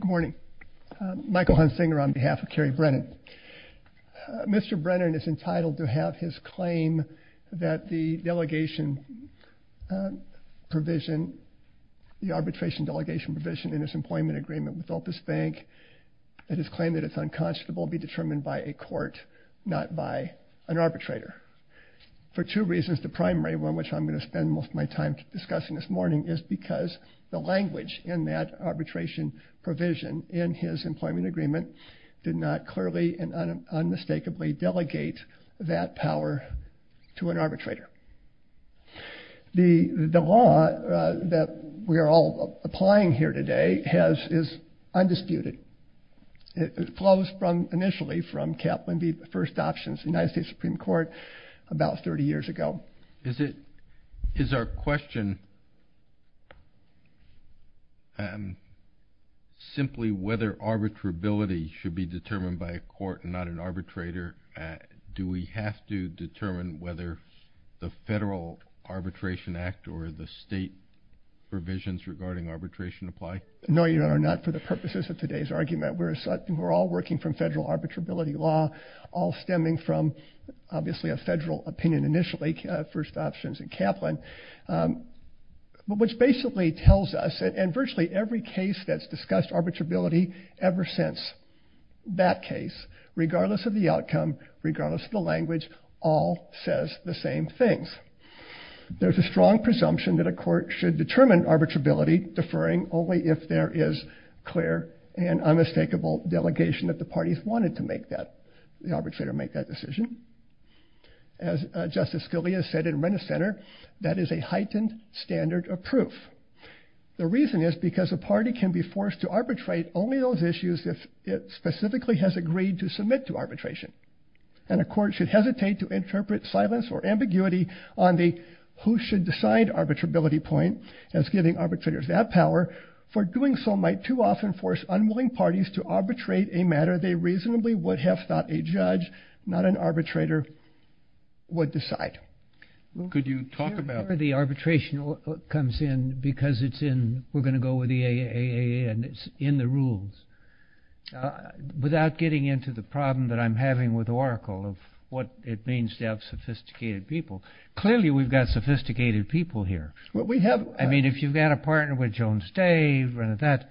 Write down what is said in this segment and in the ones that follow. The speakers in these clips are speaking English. Good morning. Michael Hunsinger on behalf of Carey Brennan. Mr. Brennan is entitled to have his claim that the delegation provision, the arbitration delegation provision in his employment agreement with Opus Bank and his claim that it's unconscionable be determined by a court not by an arbitrator for two reasons. The primary one which I'm going to spend most of my time discussing this is because the language in that arbitration provision in his employment agreement did not clearly and unmistakably delegate that power to an arbitrator. The the law that we are all applying here today has is undisputed. It flows from initially from Kaplan v. First Options United States Supreme Court about 30 years ago. Is it is our question simply whether arbitrability should be determined by a court and not an arbitrator? Do we have to determine whether the federal arbitration act or the state provisions regarding arbitration apply? No Your Honor, not for the purposes of today's argument. We're all working from federal a federal opinion initially, First Options and Kaplan, which basically tells us and virtually every case that's discussed arbitrability ever since that case, regardless of the outcome, regardless of the language, all says the same things. There's a strong presumption that a court should determine arbitrability deferring only if there is clear and unmistakable delegation that the parties wanted to make that the arbitrator make that decision. As Justice Scalia said in Renner Center, that is a heightened standard of proof. The reason is because a party can be forced to arbitrate only those issues if it specifically has agreed to submit to arbitration and a court should hesitate to interpret silence or ambiguity on the who should decide arbitrability point as giving arbitrators that power for doing so might too often force unwilling parties to arbitrate a matter they reasonably would have thought a judge, not an arbitrator, would decide. Could you talk about the arbitration comes in because it's in we're going to go with the AAA and it's in the rules. Without getting into the problem that I'm having with Oracle of what it means to have sophisticated people, clearly we've got sophisticated people here. What we have I Jones Day, Renner that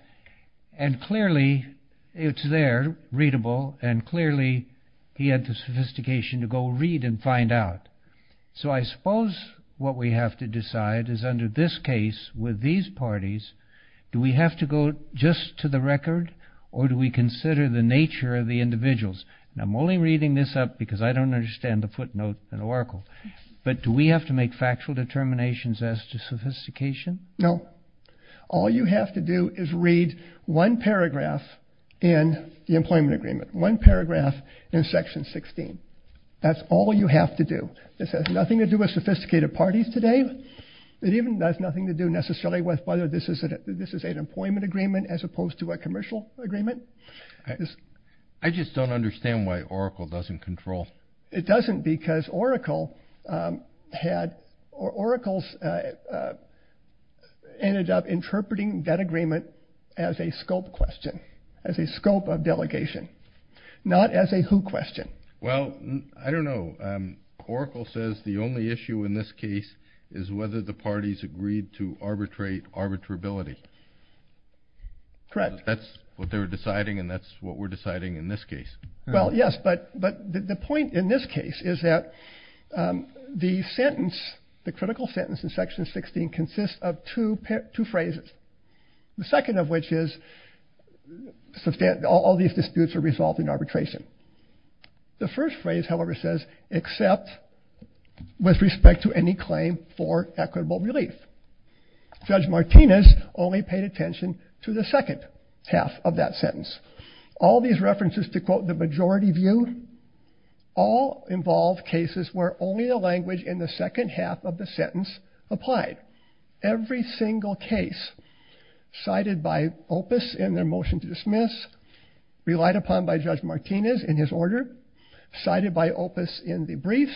and clearly it's there, readable and clearly he had the sophistication to go read and find out. So I suppose what we have to decide is under this case with these parties, do we have to go just to the record or do we consider the nature of the individuals? Now I'm only reading this up because I don't understand the footnote in Oracle, but do we have to make factual determinations as to sophistication? No. All you have to do is read one paragraph in the employment agreement, one paragraph in section 16. That's all you have to do. This has nothing to do with sophisticated parties today. It even does nothing to do necessarily with whether this is an employment agreement as opposed to a commercial agreement. I just don't understand why Oracle doesn't control. It doesn't because Oracle ended up interpreting that agreement as a scope question, as a scope of delegation, not as a who question. Well I don't know. Oracle says the only issue in this case is whether the parties agreed to arbitrate arbitrability. Correct. That's what they were deciding and that's what we're deciding in this case. Well yes, but the point in this case is that the sentence, the critical sentence in section 16 consists of two phrases. The second of which is all these disputes are resolved in arbitration. The first phrase however says except with respect to any claim for equitable relief. Judge Martinez in his order cited by Opus in the briefs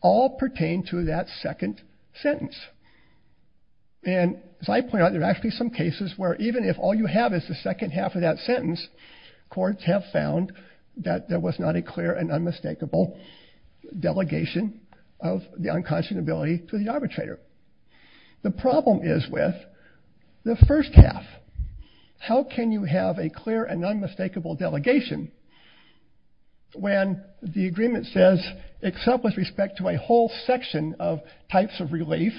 all pertain to that second sentence and as I point out there are actually some cases where even if all you have is the second half of that sentence, courts have found that there was not a clear and unmistakable delegation of the unconscionability to the arbitrator. The problem is with the first half. How can you have a clear and unmistakable delegation when the agreement says except with respect to a whole section of types of relief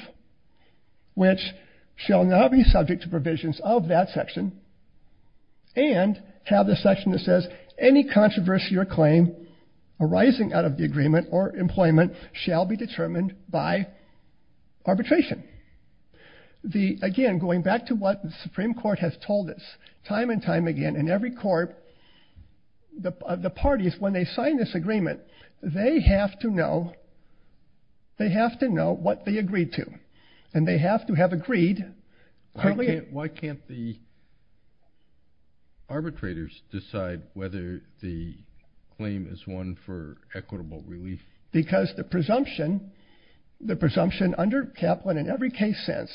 which shall not be subject to provisions of that section and have the section that says any controversy or claim arising out of the agreement or employment shall be determined by arbitration. The, again going back to what the Supreme Court has told us time and time again in every court, the parties when they sign this agreement they have to know, they have to know whether the arbitrators decide whether the claim is one for equitable relief. Because the presumption, the presumption under Kaplan in every case since,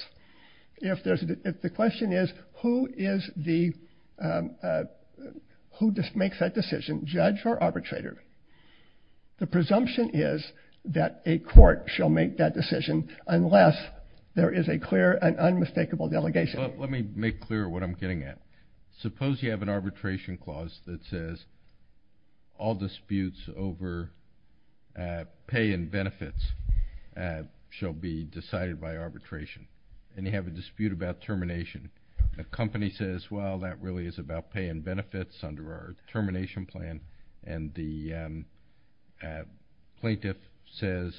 if there's, if the question is who is the, who just makes that decision judge or arbitrator, the presumption is that a court shall make that decision unless there is a clear and unmistakable delegation. Let me make clear what I'm getting at. Suppose you have an arbitration clause that says all disputes over pay and benefits shall be decided by arbitration and you have a dispute about termination. A company says well that really is about pay and benefits under our termination plan and the plaintiff says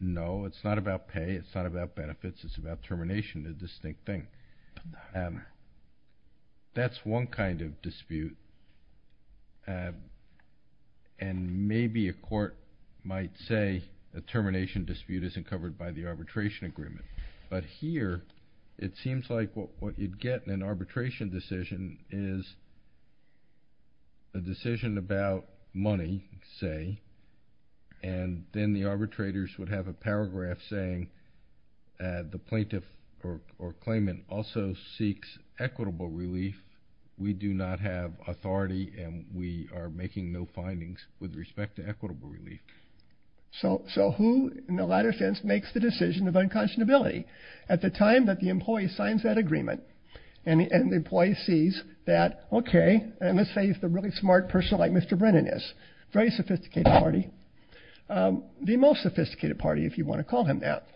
no it's not about pay it's not about benefits it's about termination, the distinct thing. That's one kind of dispute and maybe a court might say a termination dispute isn't covered by the arbitration agreement. But here it seems like what you'd get in an arbitration decision is a decision about money say and then the arbitrators would have a paragraph saying the plaintiff or claimant also seeks equitable relief we do not have authority and we are making no findings with respect to equitable relief. So who in the latter sense makes the decision of unconscionability? At the time that the employee signs that agreement and the employee sees that okay and let's say it's a really smart person like Mr. Brennan is. Very sophisticated party. The most sophisticated party if you want to call him that.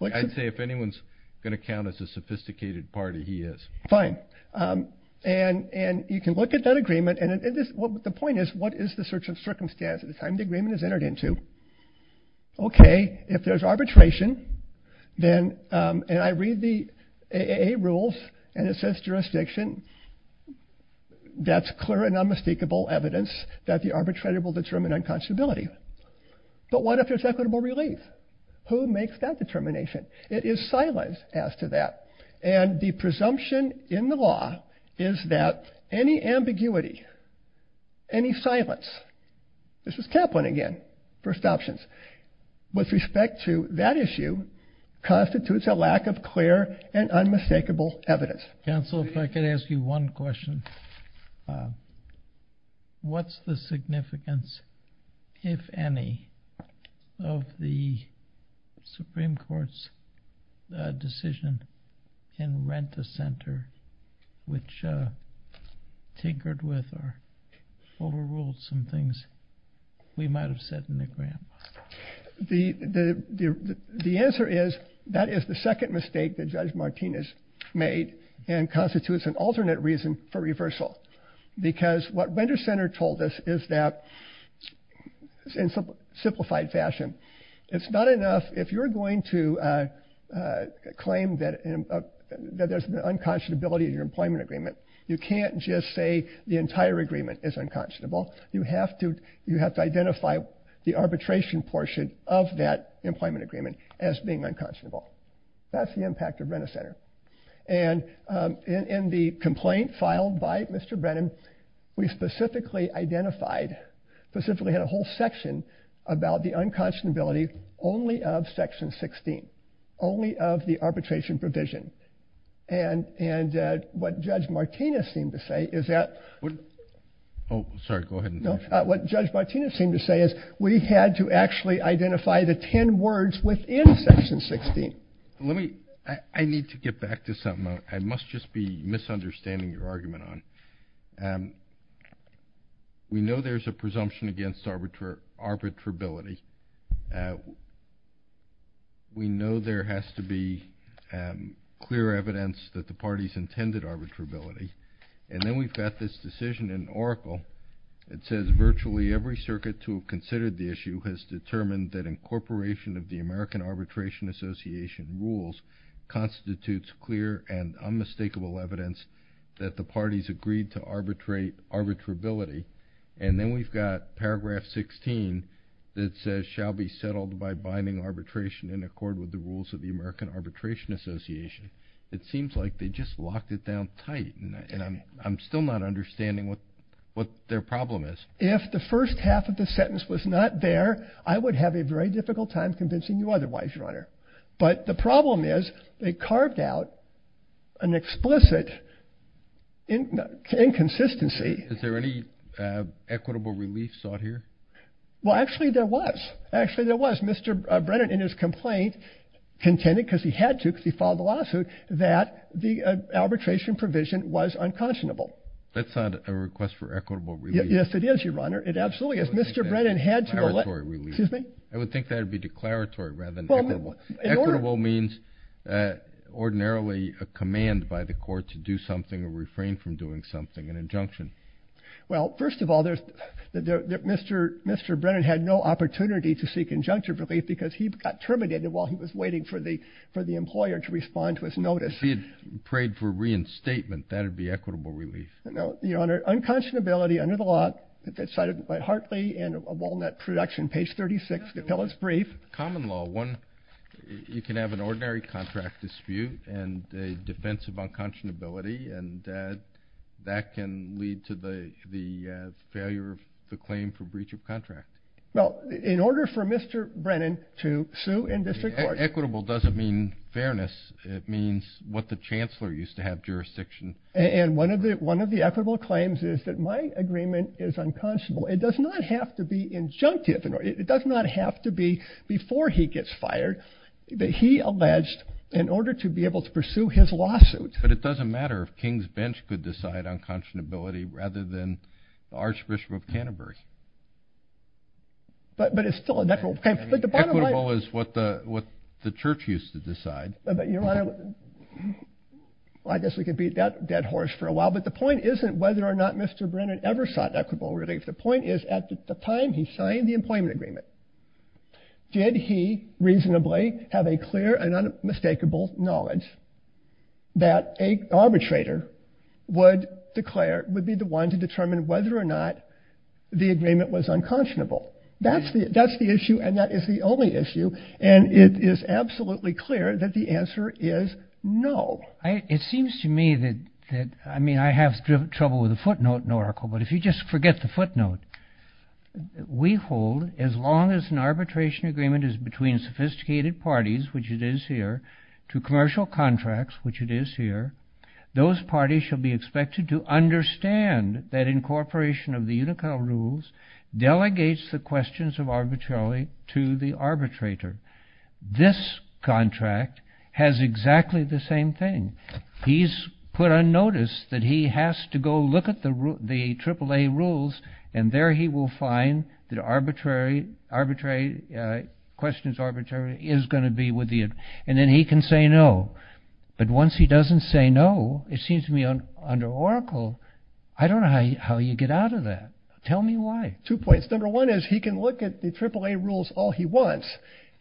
I'd say if anyone's going to count as a sophisticated party he is. Fine and and you can look at that agreement and it is what the point is what is the search of circumstance at the time the agreement is entered into? Okay if there's arbitration then and I read the AAA rules and it says jurisdiction that's clear and unmistakable evidence that the arbitrator will determine unconscionability. But what if there's equitable relief? Who makes that determination? It is silence as to that and the presumption in the law is that any ambiguity any silence this is Kaplan again first options with respect to that issue constitutes a lack of unmistakable evidence. Counselor if I could ask you one question. What's the significance if any of the Supreme Court's decision in Rent-a-Center which tinkered with or overruled some things we might have said in the grant? The the answer is that is the second mistake that Judge Martinez made and constitutes an alternate reason for reversal because what Rent-a-Center told us is that in some simplified fashion it's not enough if you're going to claim that there's an unconscionability of your employment agreement you can't just say the entire agreement is unconscionable you have to you have to identify the arbitration portion of that employment agreement as being unconscionable. That's the impact of Rent-a-Center and in the complaint filed by Mr. Brennan we specifically identified specifically had a whole section about the unconscionability only of section 16 only of the arbitration provision and and what Judge Martinez seemed to say is that oh sorry go ahead no what Judge Martinez seemed to say is we had to actually identify the ten words within section 16. Let me I need to get back to something I must just be misunderstanding your argument on. We know there's a presumption against arbitrary arbitrability we know there has to be clear evidence that the parties intended arbitrability and then we've got this decision in Oracle it says virtually every circuit to considered the issue has determined that incorporation of the American Arbitration Association rules constitutes clear and unmistakable evidence that the parties agreed to arbitrate arbitrability and then we've got paragraph 16 that says shall be settled by binding arbitration in accord with the rules of the American Arbitration Association. It seems like they just locked it down tight and I'm still not understanding what what their problem is. If the first half of the sentence was not there I would have a very difficult time convincing you otherwise your honor but the problem is they carved out an explicit inconsistency. Is there any equitable relief sought here? Well actually there was actually there was Mr. Brennan in his complaint contended because he had to because he filed the lawsuit that the arbitration provision was unconscionable. That's not a request for equitable relief. Yes it is your honor. It absolutely is. Mr. Brennan had to. I would think that would be declaratory rather than equitable. Equitable means ordinarily a command by the court to do something or refrain from doing something an injunction. Well first of all there's that mr. mr. Brennan had no opportunity to seek injunctive relief because he got terminated while he was waiting for the for the employer to respond to his notice. He had prayed for reinstatement that would be equitable relief. No your honor unconscionability under the law decided by Hartley and a Walnut production page 36 the pill is brief. Common law one you can have an ordinary contract dispute and a defense of unconscionability and that can lead to the the failure of the claim for breach of contract. Well in order for mr. Brennan to sue in district court. Equitable doesn't mean fairness it means what the Chancellor used to have jurisdiction. And one of the one of the equitable claims is that my agreement is unconscionable. It does not have to be injunctive. It does not have to be before he gets fired that he alleged in order to be able to pursue his lawsuit. But it doesn't matter if King's bench could decide unconscionability rather than Archbishop of Canterbury. But but it's still a natural. Equitable is what the what the church used to decide. But your honor I guess we could beat that dead horse for a while but the point isn't whether or not mr. Brennan ever sought equitable relief. The point is at the time he signed the employment agreement did he reasonably have a clear and unmistakable knowledge that a arbitrator would declare would be the one to determine whether or not the agreement was unconscionable. That's the that's the issue and that is the only issue and it is absolutely clear that the answer is no. It seems to me that that I mean I have trouble with a footnote in Oracle but if you just forget the footnote. We hold as long as an arbitration agreement is between sophisticated parties which it is here to commercial contracts which it is here those parties shall be expected to understand that incorporation of the Unicole rules delegates the questions of arbitrarily to the arbitrator. This contract has exactly the same thing. He's put on notice that he has to go look at the the triple-a rules and there he will find that arbitrary arbitrary questions arbitrary is going to be with you and then he can say no. But once he doesn't say no it seems to me on under Oracle I don't know how you get out of that. Tell me why. Two points. Number one is he can look at the triple-a rules all he wants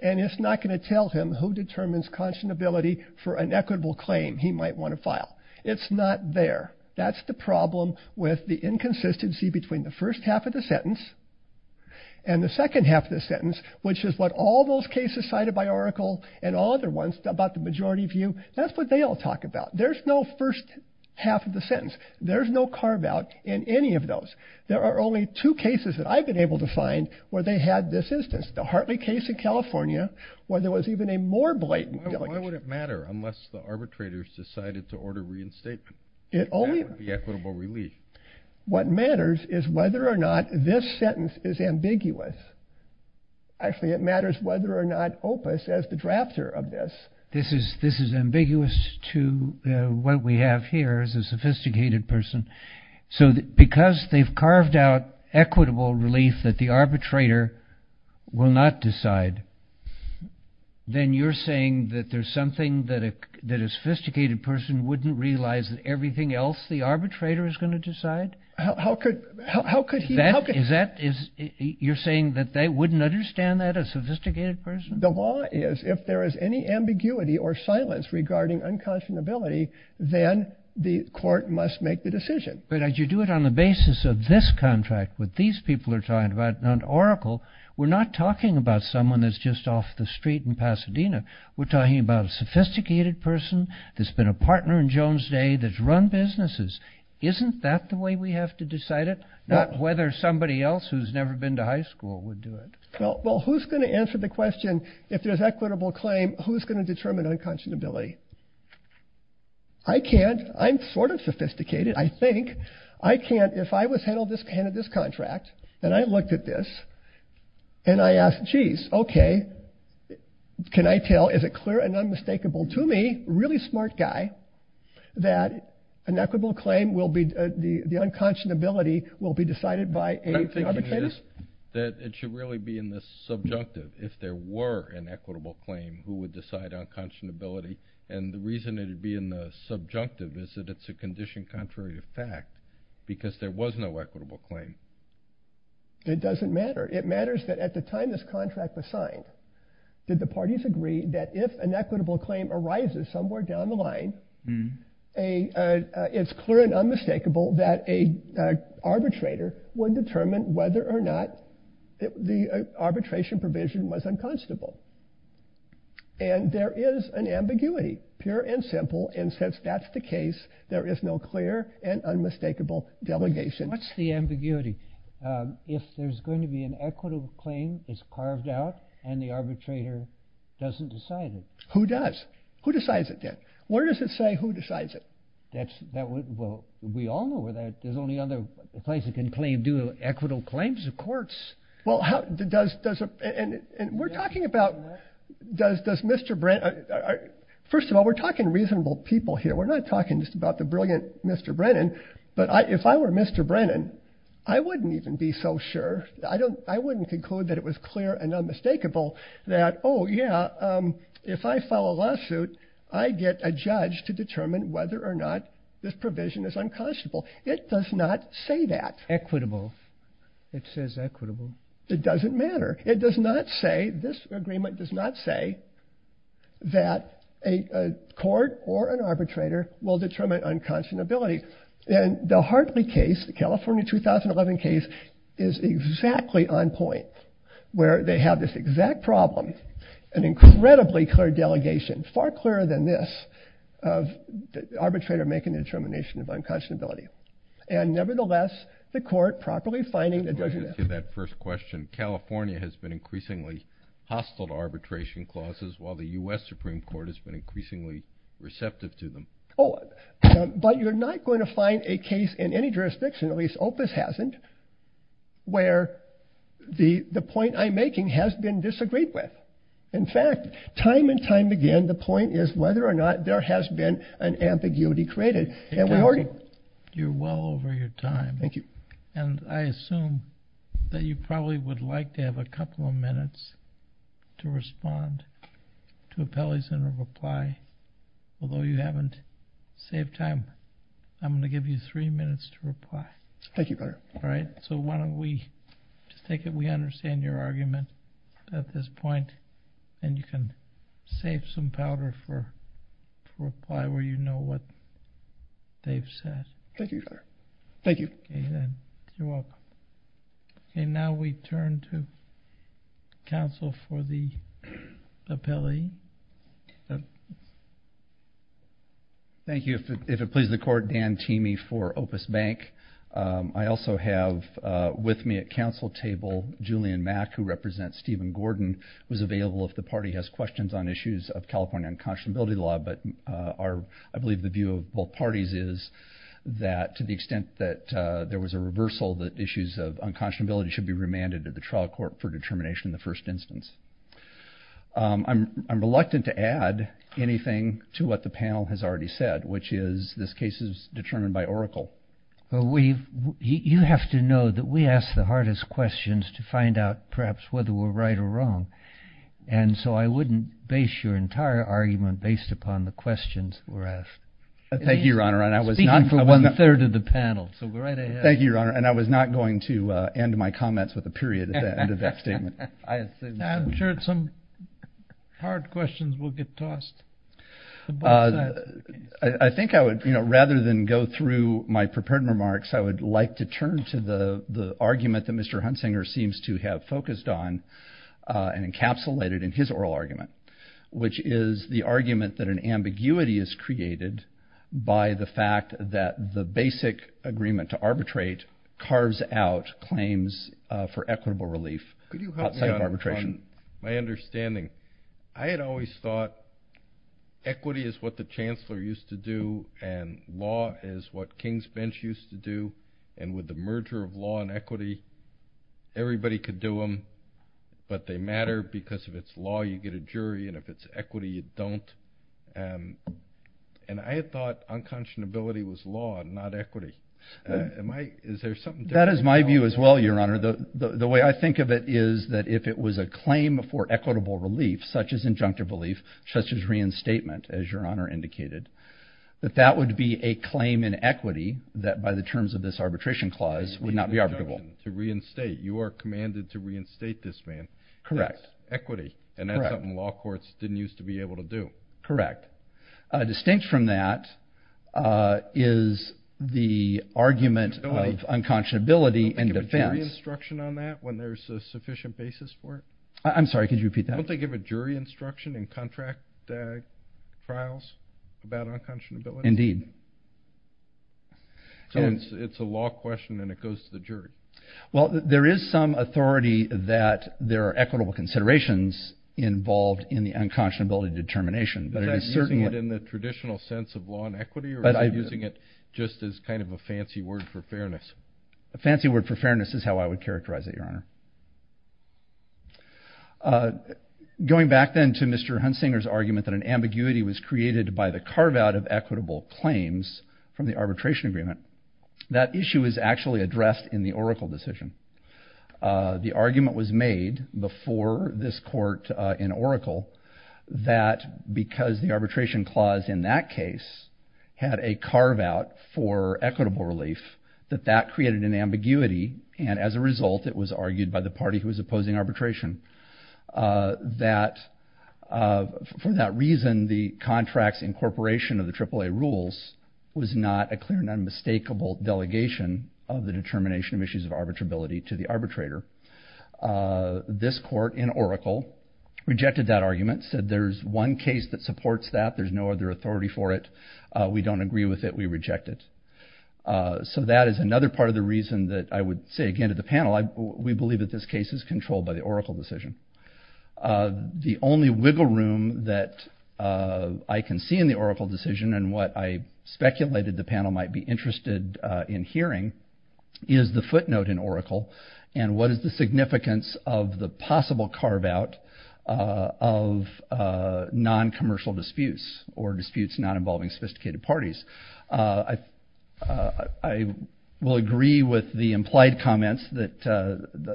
and it's not going to tell him who determines conscionability for an equitable claim he might want to file. It's not there. That's the problem with the inconsistency between the first half of the sentence and the second half of the sentence which is what all those cases cited by Oracle and all other ones about the majority view that's what they all talk about. There's no first half of sentence. There's no carve out in any of those. There are only two cases that I've been able to find where they had this instance. The Hartley case in California where there was even a more blatant. Why would it matter unless the arbitrators decided to order reinstatement. It only. The equitable relief. What matters is whether or not this sentence is ambiguous. Actually it matters whether or not Opus as the drafter of this. This is this is ambiguous to what we have here is a sophisticated person. So because they've carved out equitable relief that the arbitrator will not decide. Then you're saying that there's something that a that a sophisticated person wouldn't realize that everything else the arbitrator is going to decide. How could how could that is that is you're saying that they wouldn't understand that a sophisticated person. The law is if there is any ambiguity or silence regarding unconscionability then the court must make the decision. But as you do it on the basis of this contract with these people are talking about an Oracle. We're not talking about someone that's just off the street in Pasadena. We're talking about a sophisticated person that's been a partner in Jones Day that's run businesses. Isn't that the way we have to decide it. Not whether somebody else who's never been to high school would do it. Well who's going to answer the question if there's equitable claim who's going to determine unconscionability. I can't I'm sort of sophisticated I think I can't if I was handled this kind of this contract and I looked at this and I asked geez okay can I tell is it clear and unmistakable to me really smart guy that an equitable claim will be the the unconscionability will be decided by a that it should really be in this subjunctive if there were an equitable claim who would decide unconscionability and the reason it would be in the subjunctive is that it's a condition contrary to fact because there was no equitable claim. It doesn't matter it matters that at the time this contract was signed did the parties agree that if an equitable claim arises somewhere down the line a it's clear and unmistakable that a arbitrator would determine whether or not the arbitration provision was unconscionable and there is an ambiguity pure and simple and since that's the case there is no clear and unmistakable delegation. What's the ambiguity? If there's going to be an equitable claim is carved out and the arbitrator doesn't decide it. Who does? Who decides it then? Where does it say who decides it? That's that well we all there's only other place that can claim do equitable claims of courts. Well how does doesn't and we're talking about does does mr. Brennan first of all we're talking reasonable people here we're not talking just about the brilliant mr. Brennan but I if I were mr. Brennan I wouldn't even be so sure I don't I wouldn't conclude that it was clear and unmistakable that oh yeah if I file a lawsuit I get a judge to determine whether or not this provision is unconscionable. It does not say that. Equitable. It says equitable. It doesn't matter. It does not say this agreement does not say that a court or an arbitrator will determine unconscionability and the Hartley case the California 2011 case is exactly on point where they have this exact problem an incredibly clear delegation far clearer than this of the arbitrator making the determination of unconscionability and nevertheless the court properly finding that doesn't that first question California has been increasingly hostile to arbitration clauses while the u.s. Supreme Court has been increasingly receptive to them oh but you're not going to find a case in any jurisdiction at least Opus hasn't where the the point I'm making has been disagreed with in fact time and time again the point is whether or not there has been an ambiguity created and we already you're well over your time thank you and I assume that you probably would like to have a couple of minutes to respond to a Pele's in a reply although you haven't saved time I'm gonna give you three minutes to reply thank you better all right so why don't we just take it we understand your argument at this point and you can save some powder reply where you know what they've said thank you thank you and now we turn to counsel for the appellee thank you if it pleases the court Dan teamie for Opus Bank I also have with me at council table Julian Mack who represents Steven Gordon was available if the party has questions on issues of California unconscionability law but are I believe the view of both parties is that to the extent that there was a reversal that issues of unconscionability should be remanded to the trial court for determination in the first instance I'm reluctant to add anything to what the panel has already said which is this case is determined by Oracle but we you have to know that we ask the hardest questions to find out perhaps whether we're right or wrong and so I wouldn't base your entire argument based upon the questions were asked thank you your honor and I was not for one third of the panel thank you your honor and I was not going to end my comments with a period at the end of that statement I'm sure some hard questions will get tossed I think I would you know rather than go through my prepared remarks I would like to turn to the the argument that mr. Huntsinger seems to have focused on and encapsulated in his oral argument which is the argument that an ambiguity is created by the fact that the basic agreement to arbitrate carves out claims for equitable relief arbitration my understanding I had always thought equity is what the Chancellor used to do and law is what Kings bench used to do and with the merger of law and equity everybody could do them but they matter because if it's law you get a jury and if it's equity you don't and I had thought unconscionability was law not equity is there something that is my view as well your honor the the way I think of it is that if it was a claim for equitable relief such as injunctive belief such as reinstatement as your honor indicated that that would be a claim in equity that by the terms of this arbitration clause would not be arbitrable to reinstate you are commanded to reinstate this man correct equity and that's something law courts didn't used to be able to do correct distinct from that is the argument of unconscionability and defense instruction on that when there's a sufficient basis for it I'm sorry could you repeat that don't they give a jury instruction in contract trials about unconscionability indeed so it's a law question and it goes to the jury well there is some authority that there are equitable considerations involved in the unconscionability determination but I'm asserting it in the traditional sense of law and equity but I'm using it just as kind of a fancy word for fairness a going back then to mr. Hunsinger's argument that an ambiguity was created by the carve-out of equitable claims from the arbitration agreement that issue is actually addressed in the Oracle decision the argument was made before this court in Oracle that because the arbitration clause in that case had a carve-out for equitable relief that that created an ambiguity and as a that for that reason the contracts incorporation of the triple-a rules was not a clear and unmistakable delegation of the determination of issues of arbitrability to the arbitrator this court in Oracle rejected that argument said there's one case that supports that there's no other authority for it we don't agree with it we reject it so that is another part of the reason that I would say again to the panel I we believe that this case is controlled by the Oracle decision the only wiggle room that I can see in the Oracle decision and what I speculated the panel might be interested in hearing is the footnote in Oracle and what is the significance of the possible carve-out of non-commercial disputes or disputes not involving sophisticated parties I will agree with the implied comments that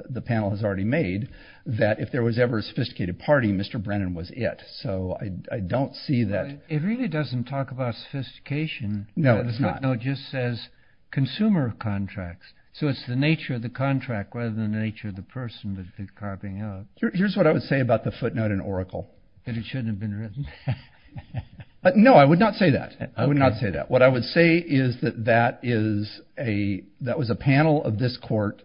the panel has already made that if there was ever a sophisticated party mr. Brennan was it so I don't see that it really doesn't talk about sophistication no it's not no just says consumer contracts so it's the nature of the contract rather than the nature of the person that is carving out here's what I would say about the footnote in Oracle and it shouldn't have been written but no I would not say that I would not say that what I would say is that that is a that was a panel of this court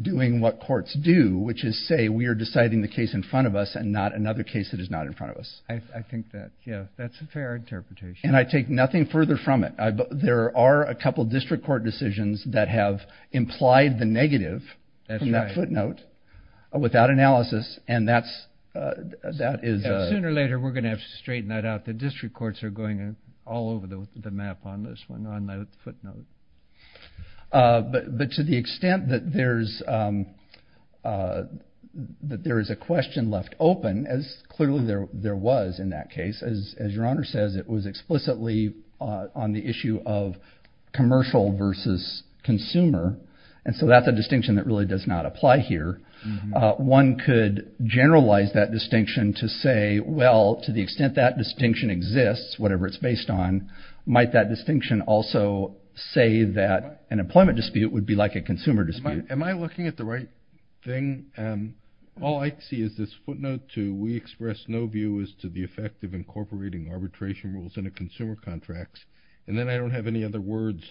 doing what courts do which is say we are deciding the case in front of us and not another case that is not in front of us I think that yeah that's a fair interpretation and I take nothing further from it I but there are a couple district court decisions that have implied the negative and that footnote without analysis and that's that is sooner later we're gonna have to put no but but to the extent that there's that there is a question left open as clearly there there was in that case as your honor says it was explicitly on the issue of commercial versus consumer and so that's a distinction that really does not apply here one could generalize that distinction to say well to the extent that distinction exists whatever it's a distinction also say that an employment dispute would be like a consumer dispute am I looking at the right thing all I see is this footnote to we express no view is to the effect of incorporating arbitration rules in a consumer contracts and then I don't have any other words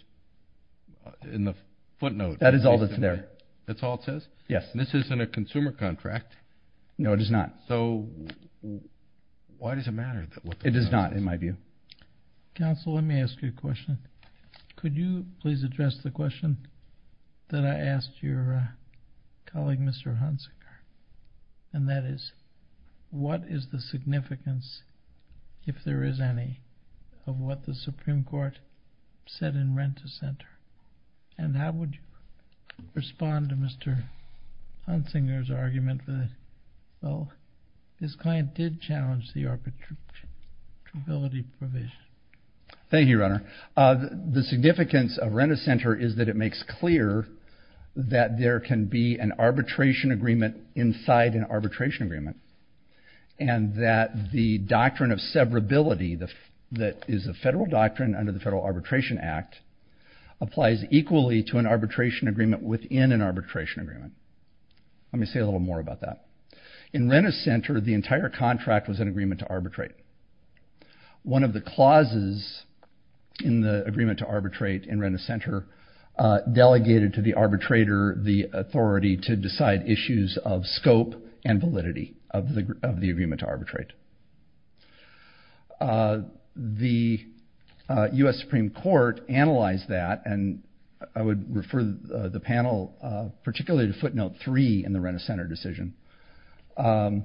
in the footnote that is all that's there that's all it says yes this isn't a consumer contract no it is not so why does it matter that what it is not in my view counsel let me ask you a question could you please address the question that I asked your colleague mr. Hunsinger and that is what is the significance if there is any of what the Supreme Court said in rent to Center and how would you respond to mr. Hunsinger's argument with it well this client did challenge the arbitration ability thank you runner the significance of rent-a-center is that it makes clear that there can be an arbitration agreement inside an arbitration agreement and that the doctrine of severability the that is a federal doctrine under the Federal Arbitration Act applies equally to an arbitration agreement within an arbitration agreement let me say a little more about that in rent-a-center the entire contract was an agreement to arbitrate one of the clauses in the agreement to arbitrate in rent-a-center delegated to the arbitrator the authority to decide issues of scope and validity of the of the agreement to arbitrate the US Supreme Court analyzed that and I would refer the panel particularly to footnote 3 in the rent-a-center decision the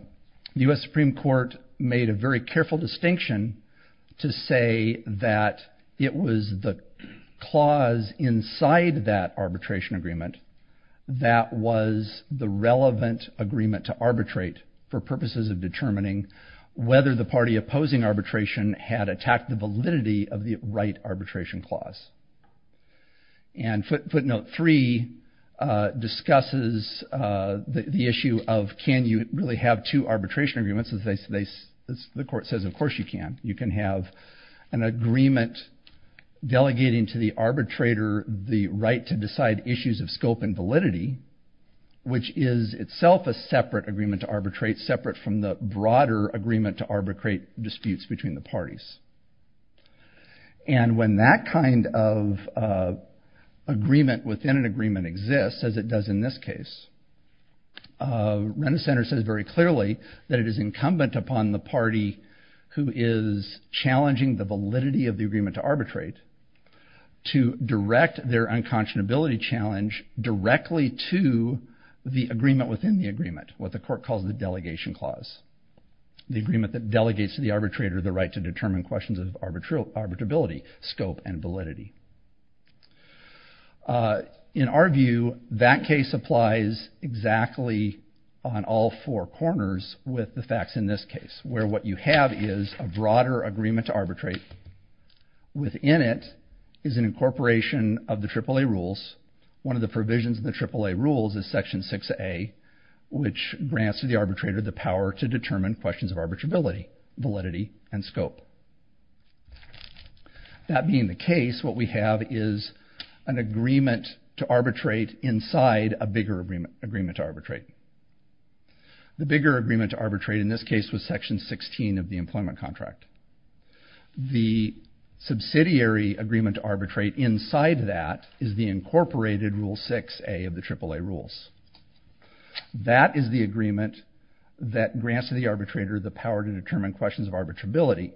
US Supreme Court made a very careful distinction to say that it was the clause inside that arbitration agreement that was the relevant agreement to arbitrate for purposes of determining whether the party opposing arbitration had attacked the validity of the right arbitration clause and footnote 3 discusses the issue of can you really have two arbitration agreements as they say the court says of course you can you can have an agreement delegating to the arbitrator the right to decide issues of scope and validity which is itself a separate agreement to arbitrate separate from the broader agreement to arbitrate disputes between the parties and when that kind of agreement within an agreement exists as it does in this case rent-a-center says very clearly that it is incumbent upon the party who is challenging the validity of the agreement to arbitrate to direct their unconscionability challenge directly to the agreement within the agreement what the court calls the delegation clause the agreement that delegates to the arbitrator the right to determine questions of arbitral arbitrability scope and validity in our view that case applies exactly on all four corners with the facts in this case where what you have is a broader agreement to arbitrate within it is an incorporation of the triple-a rules one of the provisions of the triple-a rules is section 6a which grants to the arbitrator the power to determine questions of arbitrability validity and scope that being the case what we have is an agreement to arbitrate inside a bigger agreement agreement to arbitrate the bigger agreement to arbitrate in this case was section 16 of the employment contract the subsidiary agreement to arbitrate inside that is the incorporated rule 6a of the triple-a rules that is the agreement that grants to the arbitrator the power to determine questions of arbitrability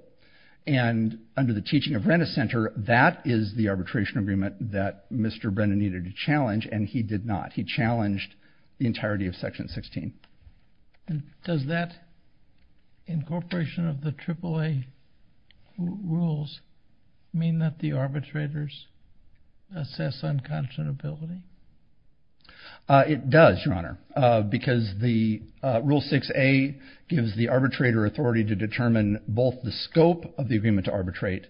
and under the teaching of rent-a-center that is the arbitration agreement that mr. Brennan needed to challenge and he did not he challenged the entirety of section 16 and does that incorporation of the triple-a rules mean that the arbitrators assess unconscionability it does your honor because the rule 6a gives the arbitrator authority to determine both the scope of the agreement to arbitrate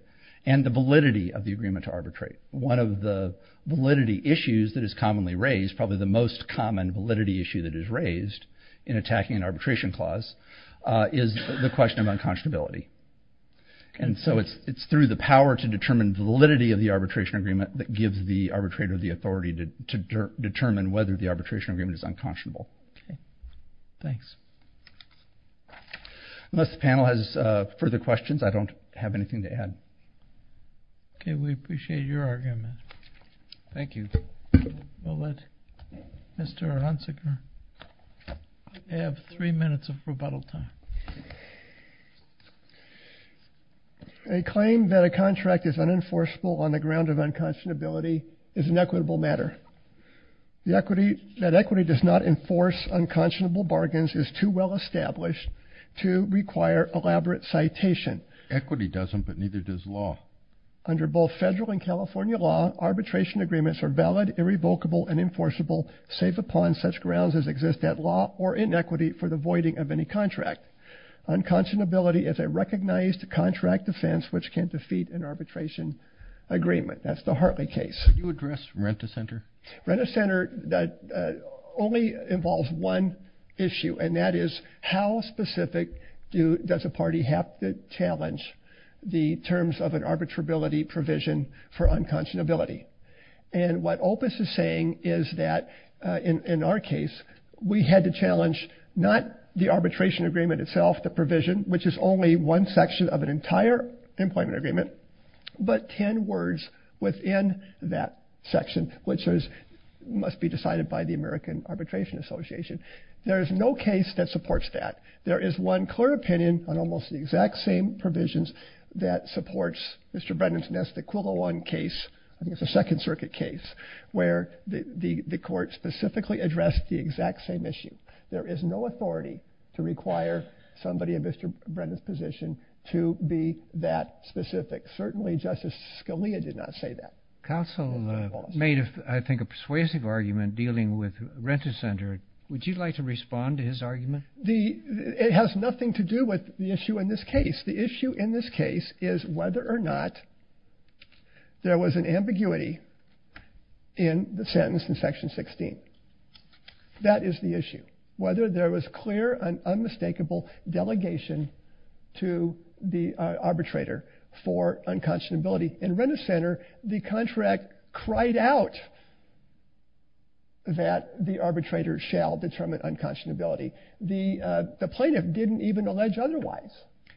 and the validity of the agreement to arbitrate one of the validity issues that is commonly raised probably the most common validity issue that is raised in attacking an arbitration clause is the question of unconscionability and so it's it's through the power to determine validity of the arbitration agreement that gives the arbitrator the authority to determine whether the arbitration agreement is unconscionable thanks unless the panel has further questions I don't have anything to add okay we appreciate your argument thank you well let mr. Aronson have three minutes of rebuttal time a claim that a contract is unenforceable on the ground of unconscionability is an equitable matter the equity that equity does not enforce unconscionable bargains is too well established to require elaborate citation equity doesn't but neither does law under both federal and California law arbitration agreements are valid irrevocable and enforceable safe upon such grounds as exist that law or inequity for the voiding of any contract unconscionability is a recognized contract defense which can defeat an arbitration agreement that's the Hartley case you address rent a center rent a center that only involves one issue and that is how specific do does a party have to challenge the terms of an arbitrability provision for unconscionability and what Opus is saying is that in our case we had to challenge not the arbitration agreement itself the provision which is only one section of an entire employment agreement but ten words within that section which is must be decided by the American Arbitration Association there is no case that supports that there is one clear opinion on almost the exact same provisions that supports mr. Brendan's nest Aquila one case I think it's a Second Circuit case where the the the court specifically addressed the exact same issue there is no authority to require somebody in mr. Brennan's position to be that specific certainly justice Scalia did not say that counsel made if I think a persuasive argument dealing with rent-a-center would you like to respond to his argument the it has nothing to do with the issue in this case the issue in this case is whether or not there was an ambiguity in the sentence in section 16 that is the issue whether there was clear an unmistakable delegation to the arbitrator for unconscionability in rent-a-center the contract cried out that the arbitrator shall determine unconscionability the the plaintiff didn't even allege otherwise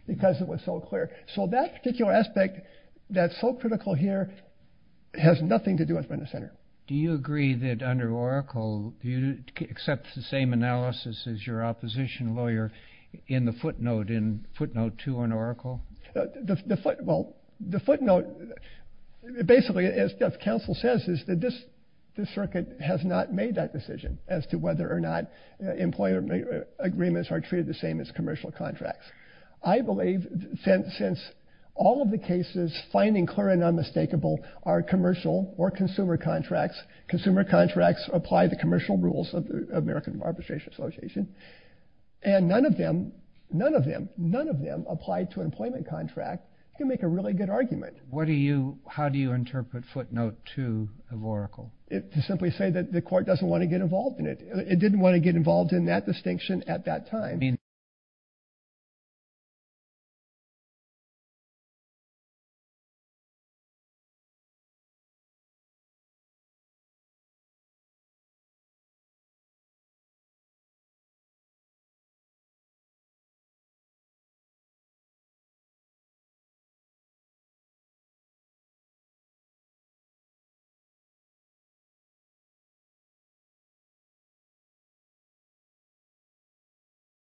because it was so clear so that particular aspect that's so critical here has nothing to do with from the center do you agree that under Oracle you accept the same analysis as your opposition lawyer in the footnote in footnote to an Oracle the footnote basically as counsel says is that this this circuit has not made that decision as to whether or not employer agreements are treated the same as commercial contracts I believe since all of the cases finding clear and unmistakable are commercial or consumer contracts consumer contracts apply the commercial rules of the American Bar Association and none of them none of them none of them applied to employment contract you make a really good argument what do you how do you interpret footnote to of Oracle it to simply say that the court doesn't want to get involved in it it didn't want to get involved in that distinction at that time you